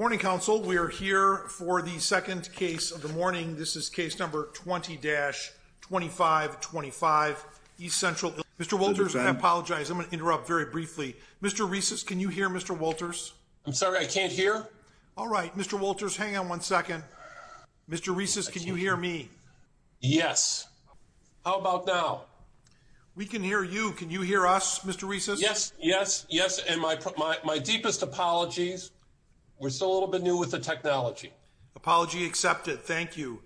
Morning Council, we are here for the second case of the morning. This is case number 20-2525 East Central Illinois Pipe Tra V. Prather Plumbing & Heating, In Mr. Wolters, I apologize, I'm going to interrupt very briefly. Mr. Reces, can you hear Mr. Wolters? I'm sorry, I can't hear. All right, Mr. Wolters, hang on one second. Mr. Reces, can you hear me? Yes. How about now? We can hear you. Can you hear us, Mr. Reces? Yes, yes, yes, and my deepest apologies. We're still a little bit new with the technology. Apology accepted. Thank you.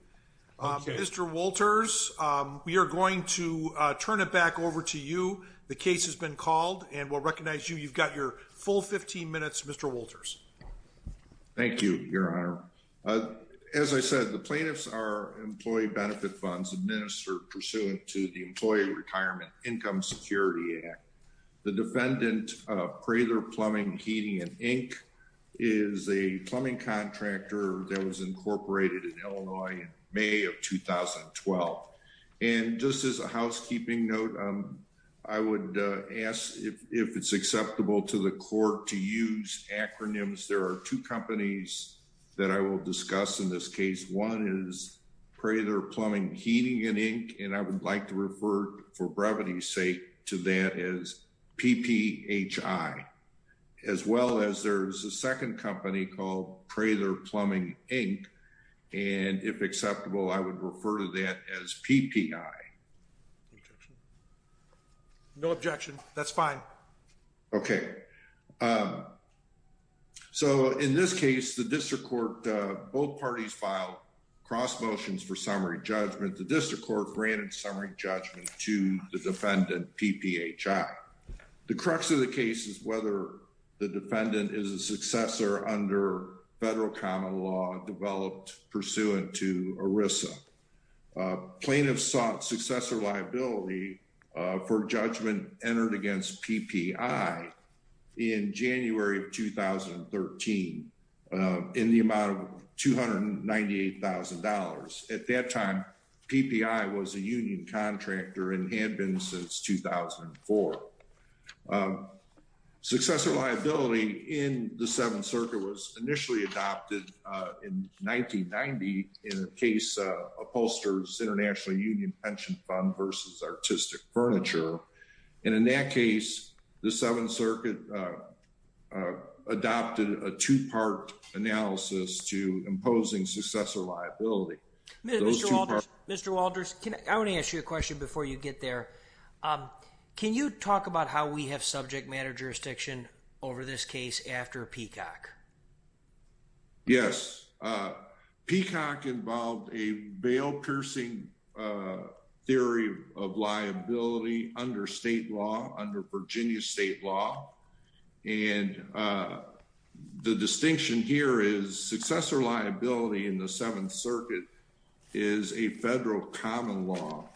Mr. Wolters, we are going to turn it back over to you. The case has been called, and we'll recognize you. You've got your full 15 minutes, Mr. Wolters. Thank you, Your Honor. As I said, the plaintiffs are employee benefit funds administered pursuant to the Employee Retirement Income Security Act. The defendant, Prather Plumbing & Heating, Inc., is a plumbing contractor that was incorporated in Illinois in May of 2012. And just as a housekeeping note, I would ask if it's acceptable to the court to use acronyms. There are two companies that I will discuss in this case. One is Prather Plumbing & Heating, Inc., and I would like to refer, for brevity's sake, to that as PPHI. As well as there's a second company called Prather Plumbing, Inc., and if acceptable, I would refer to that as PPI. No objection. That's fine. Okay. So in this case, the district court, both parties filed cross motions for summary judgment. The district court granted summary judgment to the defendant, PPHI. The crux of the case is whether the defendant is a successor under federal common law developed pursuant to ERISA. Plaintiffs sought successor liability for judgment entered against PPI in January of 2013 in the amount of $298,000. At that time, PPI was a union contractor and had been since 2004. Successor liability in the Seventh Circuit was initially adopted in 1990 in the case of Upholster's International Union Pension Fund v. Artistic Furniture. And in that case, the Seventh Circuit adopted a two-part analysis to imposing successor liability. Mr. Walters, I want to ask you a question before you get there. Can you talk about how we have subject matter jurisdiction over this case after Peacock? Yes. Peacock involved a bail-piercing theory of liability under state law, under Virginia state law. And the distinction here is successor liability in the Seventh Circuit is a federal common law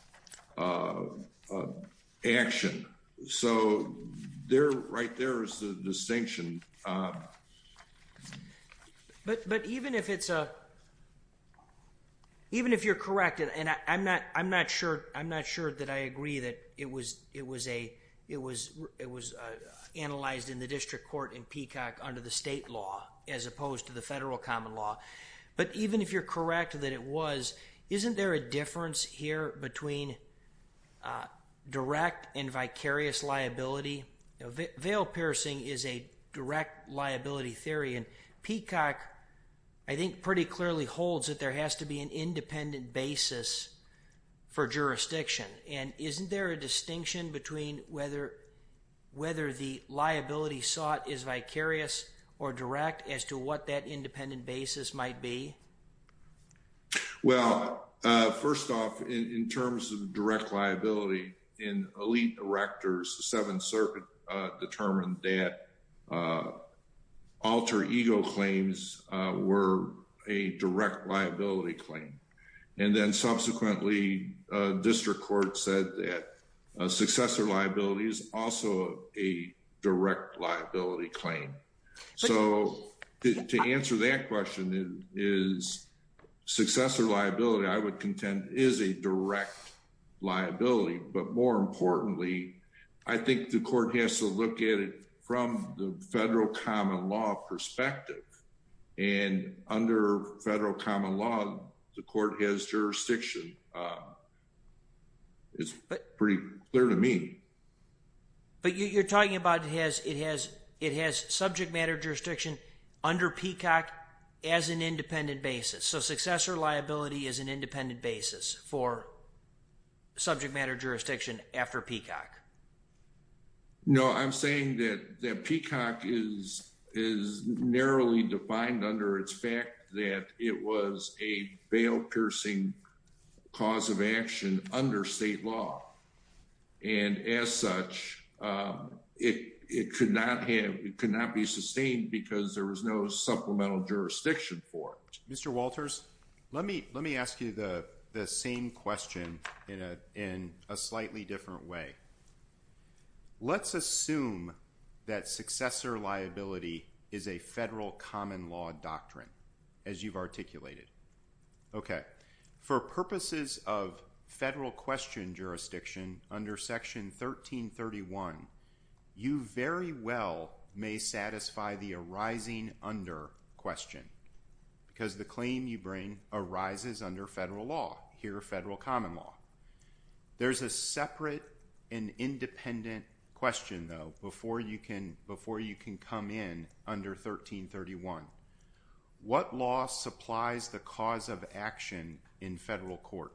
action. So there, right there is the distinction. But even if you're correct, and I'm not sure that I agree that it was analyzed in the district court in Peacock under the state law as opposed to the federal common law, but even if you're correct that it was, isn't there a difference here between direct and vicarious liability? Bail-piercing is a direct liability theory, and Peacock, I think, pretty clearly holds that there has to be an independent basis for jurisdiction. And isn't there a distinction between whether the liability sought is vicarious or direct as to what that independent basis might be? Well, first off, in terms of direct liability, in elite directors, the Seventh Circuit determined that alter ego claims were a direct liability claim. And then subsequently, district court said that successor liability is also a direct liability claim. So to answer that question, is successor liability, I would contend, is a direct liability. But more importantly, I think the court has to look at it from the federal common law perspective. And under federal common law, the court has jurisdiction. It's pretty clear to me. But you're talking about it has subject matter jurisdiction under Peacock as an independent basis. So successor liability is an independent basis for subject matter jurisdiction after Peacock. No, I'm saying that Peacock is narrowly defined under its fact that it was a bail-piercing cause of action under state law. And as such, it could not be sustained because there was no supplemental jurisdiction for it. Mr. Walters, let me ask you the same question in a slightly different way. Let's assume that successor liability is a federal common law doctrine, as you've articulated. For purposes of federal question jurisdiction under Section 1331, you very well may satisfy the arising under question. Because the claim you bring arises under federal law, here federal common law. There's a separate and independent question, though, before you can come in under 1331. What law supplies the cause of action in federal court?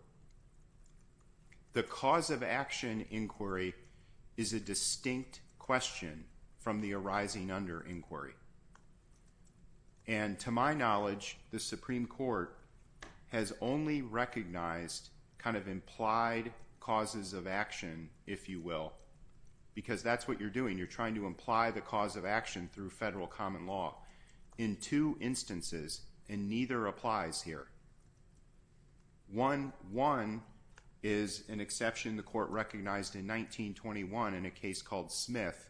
The cause of action inquiry is a distinct question from the arising under inquiry. And to my knowledge, the Supreme Court has only recognized kind of implied causes of action, if you will. Because that's what you're doing. You're trying to imply the cause of action through federal common law in two instances. And neither applies here. One is an exception the court recognized in 1921 in a case called Smith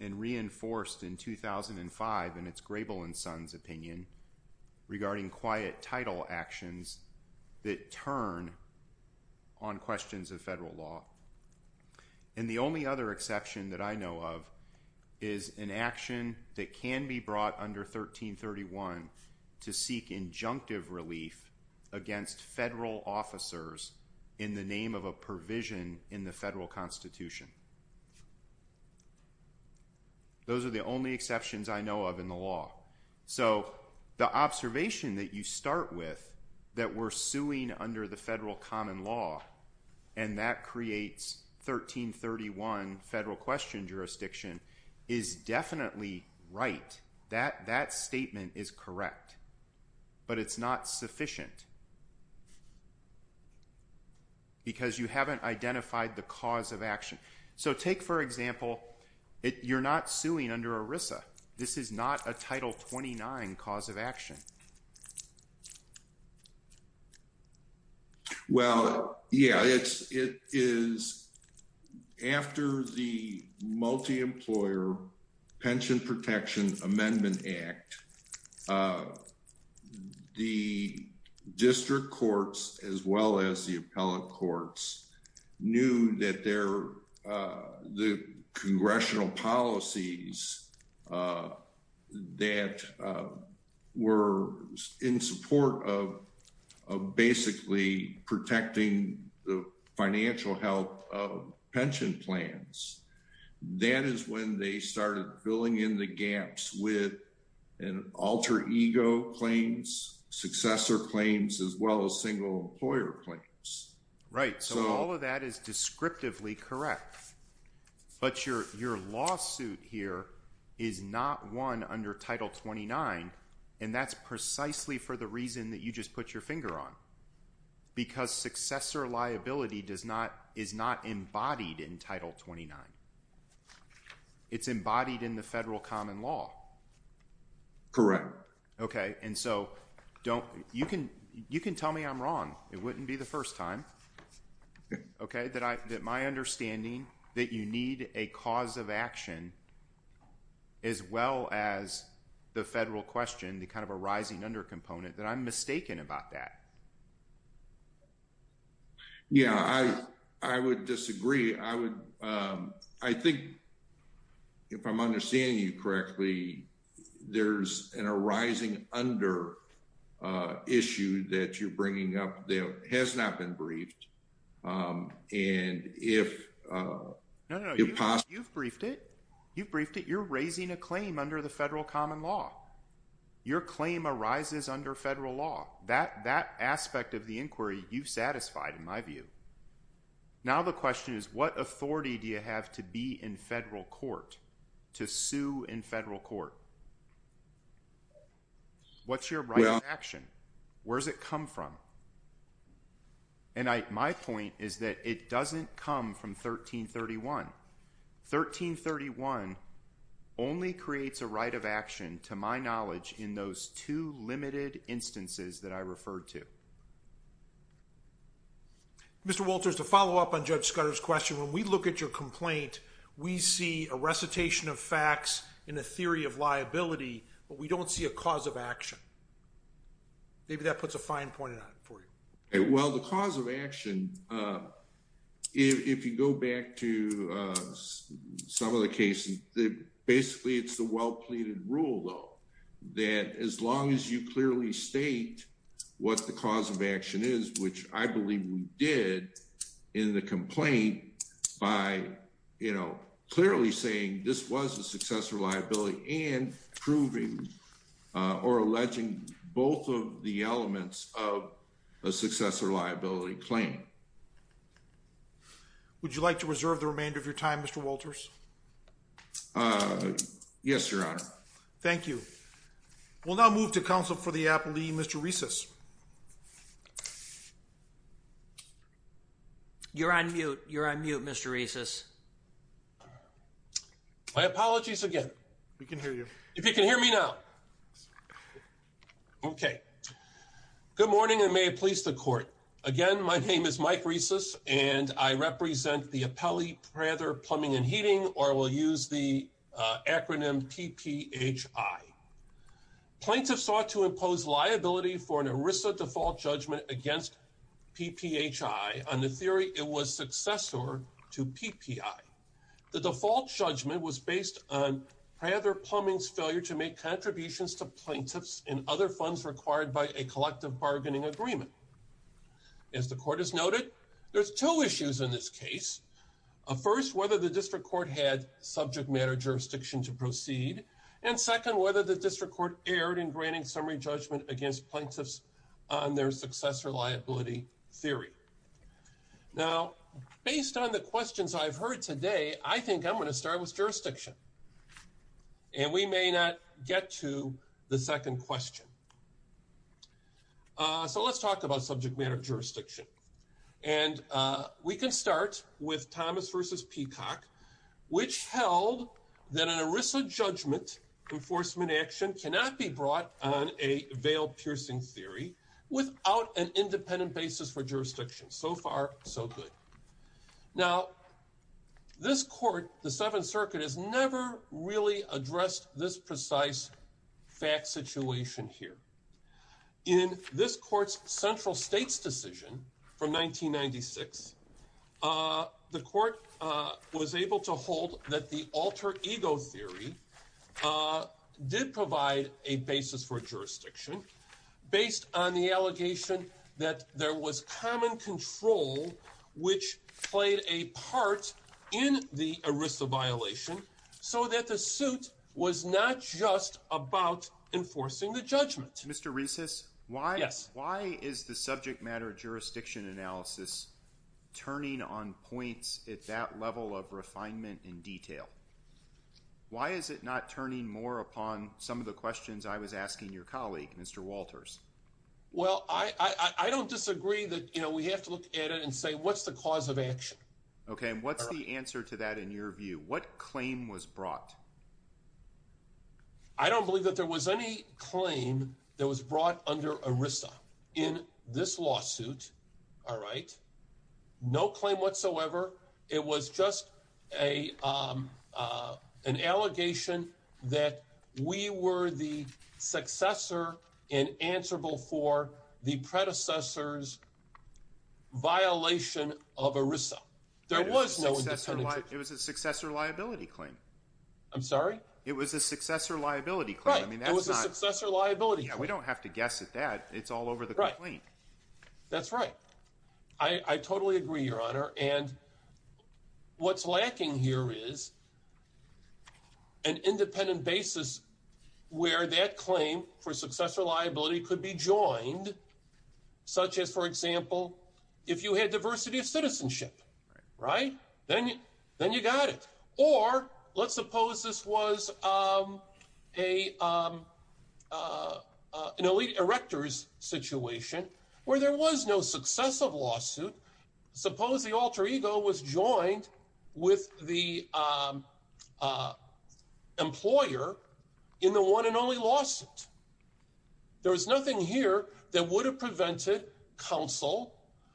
and reinforced in 2005 in its Grable and Sons opinion regarding quiet title actions that turn on questions of federal law. And the only other exception that I know of is an action that can be brought under 1331 to seek injunctive relief against federal officers in the name of a provision in the federal constitution. Those are the only exceptions I know of in the law. So the observation that you start with that we're suing under the federal common law and that creates 1331 federal question jurisdiction is definitely right. That statement is correct. But it's not sufficient. Because you haven't identified the cause of action. So take, for example, you're not suing under ERISA. This is not a Title 29 cause of action. Well, yeah, it's it is after the multi-employer Pension Protection Amendment Act. The district courts as well as the appellate courts knew that they're the congressional policies that were in support of basically protecting the financial health of pension plans. That is when they started filling in the gaps with an alter ego claims successor claims as well as single employer claims. Right. So all of that is descriptively correct. But your your lawsuit here is not one under Title 29. And that's precisely for the reason that you just put your finger on. Because successor liability does not is not embodied in Title 29. It's embodied in the federal common law. Correct. OK, and so don't you can you can tell me I'm wrong. It wouldn't be the first time. OK, that I that my understanding that you need a cause of action. As well as the federal question, the kind of a rising under component that I'm mistaken about that. Yeah, I I would disagree. I would I think. If I'm understanding you correctly, there's an arising under issue that you're bringing up that has not been briefed. And if you've briefed it, you've briefed it, you're raising a claim under the federal common law. Your claim arises under federal law that that aspect of the inquiry you've satisfied, in my view. Now, the question is, what authority do you have to be in federal court to sue in federal court? What's your action? Where does it come from? And my point is that it doesn't come from 1331. 1331 only creates a right of action, to my knowledge, in those two limited instances that I referred to. Mr. Walters, to follow up on Judge Scudder's question, when we look at your complaint, we see a recitation of facts in the theory of liability, but we don't see a cause of action. Maybe that puts a fine point on it for you. Well, the cause of action, if you go back to some of the cases, basically, it's a well pleaded rule, though, that as long as you clearly state what the cause of action is, which I believe we did in the complaint by, you know, clearly saying this was a successful liability and proving or alleging both of the elements of a successful liability claim. Would you like to reserve the remainder of your time, Mr. Walters? Yes, Your Honor. Thank you. We'll now move to counsel for the appellee, Mr. Reces. You're on mute. You're on mute, Mr. Reces. My apologies again. We can hear you. If you can hear me now. Okay. Good morning, and may it please the court. Again, my name is Mike Reces, and I represent the appellee Prather Plumbing and Heating, or we'll use the acronym PPHI. Plaintiffs sought to impose liability for an ERISA default judgment against PPHI on the theory it was successor to PPI. The default judgment was based on Prather Plumbing's failure to make contributions to plaintiffs and other funds required by a collective bargaining agreement. As the court has noted, there's two issues in this case. First, whether the district court had subject matter jurisdiction to proceed. And second, whether the district court erred in granting summary judgment against plaintiffs on their successor liability theory. Now, based on the questions I've heard today, I think I'm going to start with jurisdiction. And we may not get to the second question. So let's talk about subject matter jurisdiction. And we can start with Thomas v. Peacock, which held that an ERISA judgment enforcement action cannot be brought on a veil-piercing theory without an independent basis for jurisdiction. So far, so good. Now, this court, the Seventh Circuit, has never really addressed this precise fact situation here. In this court's central states decision from 1996, the court was able to hold that the alter ego theory did provide a basis for jurisdiction based on the allegation that there was common control, which played a part in the ERISA violation, so that the suit was not just about enforcing the judgment. Mr. Reces, why is the subject matter jurisdiction analysis turning on points at that level of refinement and detail? Why is it not turning more upon some of the questions I was asking your colleague, Mr. Walters? Well, I don't disagree that, you know, we have to look at it and say, what's the cause of action? Okay. And what's the answer to that in your view? What claim was brought? I don't believe that there was any claim that was brought under ERISA in this lawsuit. All right. No claim whatsoever. It was just an allegation that we were the successor and answerable for the predecessor's violation of ERISA. There was no independent judgment. It was a successor liability claim. I'm sorry? It was a successor liability claim. Right. It was a successor liability claim. We don't have to guess at that. It's all over the complaint. That's right. I totally agree, Your Honor. And what's lacking here is an independent basis where that claim for successor liability could be joined, such as, for example, if you had diversity of citizenship. Right. Then you got it. Or let's suppose this was an elite erector's situation where there was no successive lawsuit. Suppose the alter ego was joined with the employer in the one and only lawsuit. There was nothing here that would have prevented counsel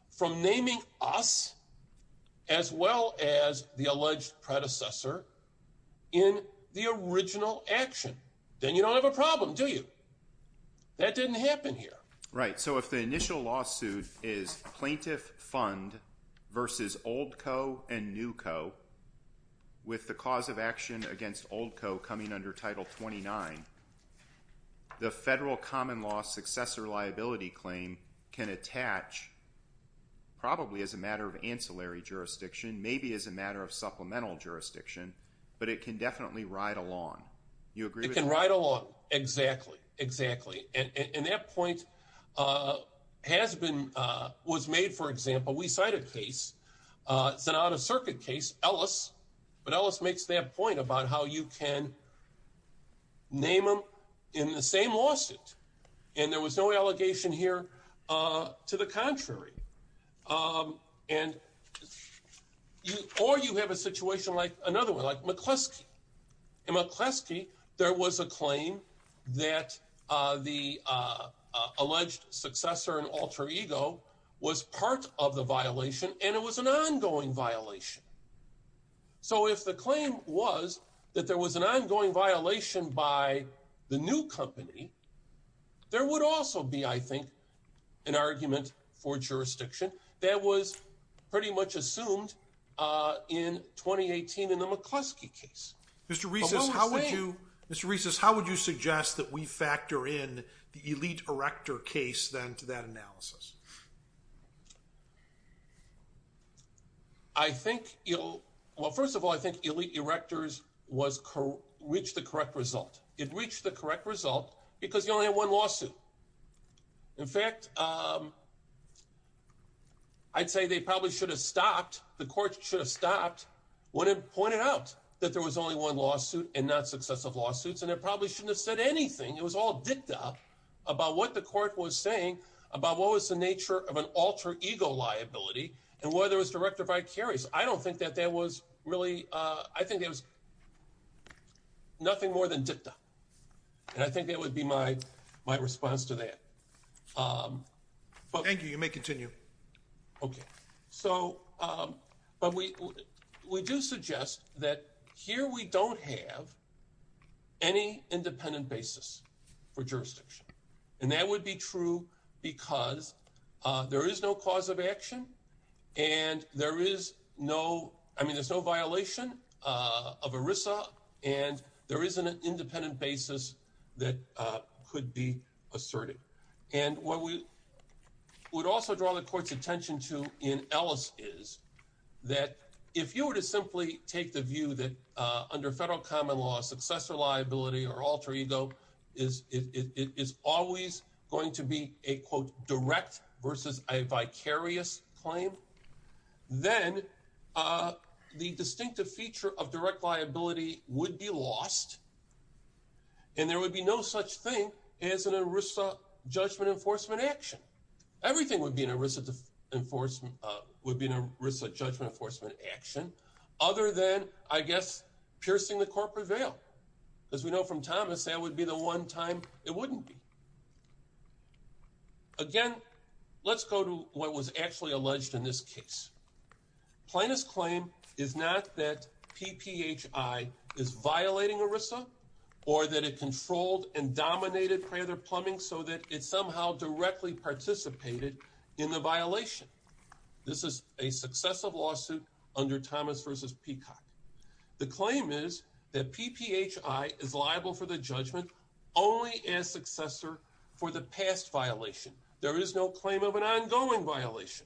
from naming us as well as the alleged predecessor in the original action. Then you don't have a problem, do you? That didn't happen here. Right. So if the initial lawsuit is plaintiff fund versus old co and new co with the cause of action against old co coming under Title 29, the federal common law successor liability claim can attach probably as a matter of ancillary jurisdiction, maybe as a matter of supplemental jurisdiction, but it can definitely ride along. It can ride along. Exactly. Exactly. And that point was made, for example, we cite a case, it's an out-of-circuit case, Ellis, but Ellis makes that point about how you can name them in the same lawsuit. And there was no allegation here to the contrary. And or you have a situation like another one, like McCluskey. In McCluskey, there was a claim that the alleged successor and alter ego was part of the violation and it was an ongoing violation. So if the claim was that there was an ongoing violation by the new company, there would also be, I think, an argument for jurisdiction that was pretty much assumed in 2018 in the McCluskey case. Mr. Reiss, how would you suggest that we factor in the elite erector case then to that analysis? I think, well, first of all, I think elite erectors reached the correct result. It reached the correct result because you only have one lawsuit. In fact, I'd say they probably should have stopped. The court should have stopped when it pointed out that there was only one lawsuit and not successive lawsuits, and it probably shouldn't have said anything. It was all dicta about what the court was saying about what was the nature of an alter ego liability and whether it was direct or vicarious. I don't think that there was really I think it was nothing more than dicta. And I think that would be my response to that. Thank you. You may continue. OK, so but we do suggest that here we don't have any independent basis for jurisdiction. And that would be true because there is no cause of action. And there is no I mean, there's no violation of ERISA. And there is an independent basis that could be asserted. And what we would also draw the court's attention to in Ellis is that if you were to simply take the view that under federal common law, successor liability or alter ego is it is always going to be a quote direct versus a vicarious claim. Then the distinctive feature of direct liability would be lost. And there would be no such thing as an ERISA judgment enforcement action. Everything would be an ERISA enforcement would be an ERISA judgment enforcement action other than, I guess, piercing the corporate veil. As we know from Thomas, that would be the one time it wouldn't be. Again, let's go to what was actually alleged in this case. Plaintiff's claim is not that PPHI is violating ERISA or that it controlled and dominated Prather Plumbing so that it somehow directly participated in the violation. This is a successive lawsuit under Thomas versus Peacock. The claim is that PPHI is liable for the judgment only as successor for the past violation. There is no claim of an ongoing violation.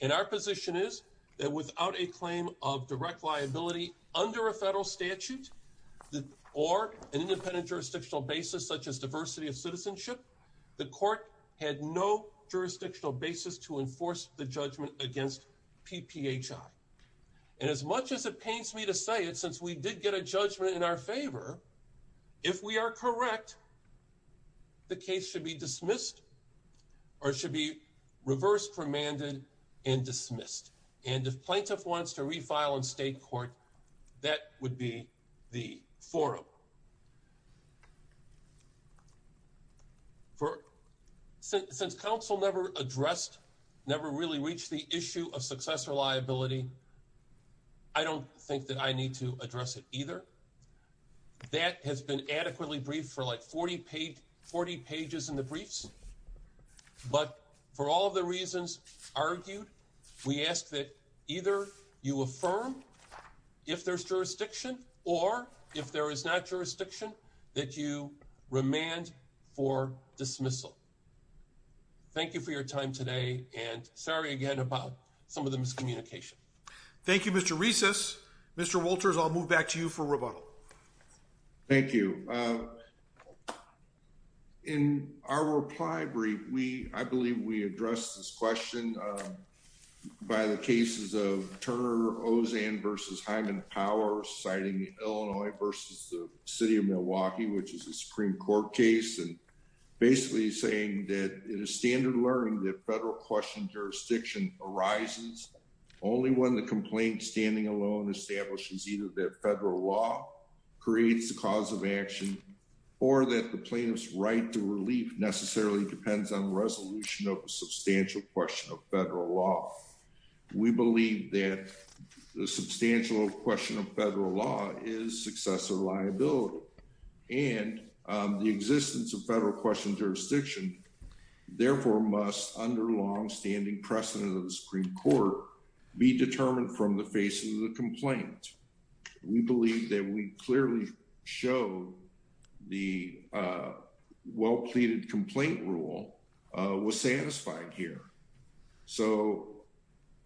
And our position is that without a claim of direct liability under a federal statute or an independent jurisdictional basis, such as diversity of citizenship, the court had no jurisdictional basis to enforce the judgment against PPHI. And as much as it pains me to say it, since we did get a judgment in our favor, if we are correct, the case should be dismissed or should be reversed, remanded and dismissed. And if plaintiff wants to refile in state court, that would be the forum. Since counsel never addressed, never really reached the issue of successor liability, I don't think that I need to address it either. That has been adequately briefed for like 40 pages in the briefs. But for all the reasons argued, we ask that either you affirm if there's jurisdiction or if there is not jurisdiction, that you remand for dismissal. Thank you for your time today and sorry again about some of the miscommunication. Thank you, Mr. Recess. Mr. Wolters, I'll move back to you for rebuttal. Thank you. In our reply brief, we I believe we addressed this question by the cases of Turner Ozan versus Hyman Powers, citing Illinois versus the city of Milwaukee, which is a Supreme Court case. And basically saying that it is standard learning that federal question jurisdiction arises only when the complaint standing alone establishes either that federal law creates the cause of action or that the plaintiff's right to relief necessarily depends on the resolution of a substantial question of federal law. We believe that the substantial question of federal law is successor liability and the existence of federal question jurisdiction, therefore, must under long standing precedent of the Supreme Court, be determined from the face of the complaint. We believe that we clearly show the well pleaded complaint rule was satisfied here. So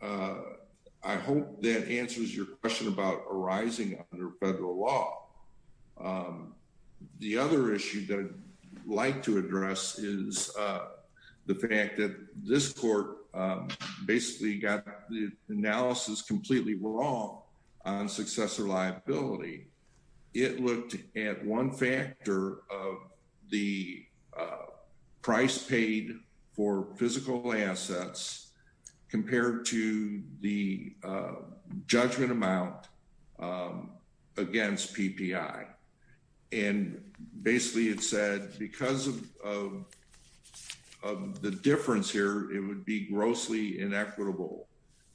I hope that answers your question about arising under federal law. The other issue that I'd like to address is the fact that this court basically got the analysis completely wrong on successor liability. It looked at one factor of the price paid for physical assets compared to the judgment amount against PPI. And basically it said because of the difference here, it would be grossly inequitable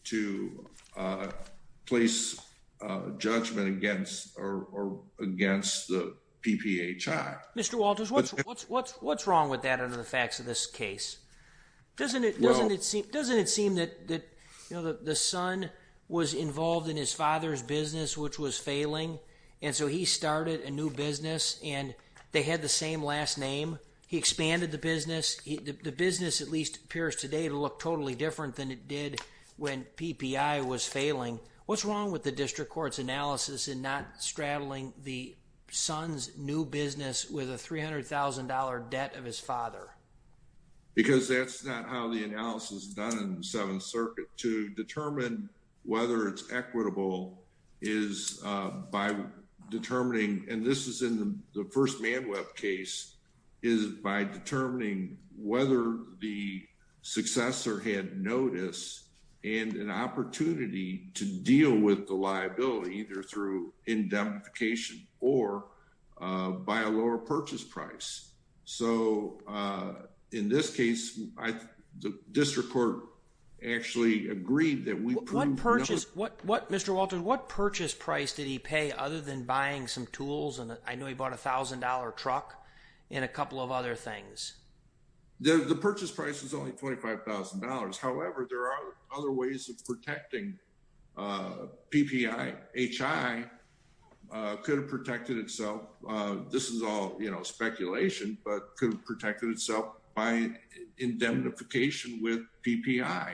to place judgment against or against the PPI. Mr. Walters, what's what's what's what's wrong with that? Doesn't it doesn't it doesn't it seem that the son was involved in his father's business, which was failing? And so he started a new business and they had the same last name. He expanded the business. The business at least appears today to look totally different than it did when PPI was failing. What's wrong with the district court's analysis in not straddling the son's new business with a three hundred thousand dollar debt of his father? Because that's not how the analysis done in the Seventh Circuit to determine whether it's equitable is by determining. And this is in the first man web case is by determining whether the successor had notice and an opportunity to deal with the liability either through indemnification or by a lower purchase price. So in this case, the district court actually agreed that we purchased what what Mr. Walter, what purchase price did he pay other than buying some tools? And I know he bought a thousand dollar truck and a couple of other things. The purchase price is only twenty five thousand dollars. However, there are other ways of protecting PPI. H.I. could have protected itself. This is all speculation, but could have protected itself by indemnification with PPI.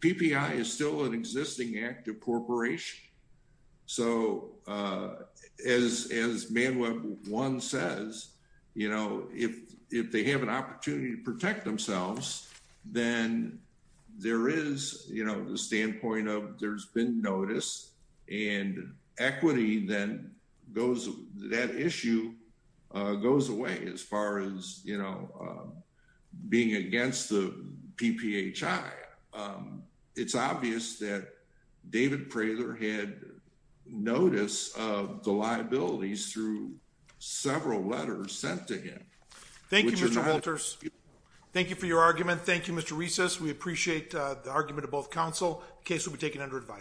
PPI is still an existing active corporation. So as as Manuel one says, you know, if if they have an opportunity to protect themselves, then there is, you know, the standpoint of there's been notice and equity. Then goes that issue goes away as far as, you know, being against the PPI. It's obvious that David Prater had notice of the liabilities through several letters sent to him. Thank you, Mr. Walters. Thank you for your argument. Thank you, Mr. Recess. We appreciate the argument of both counsel case will be taken under advice.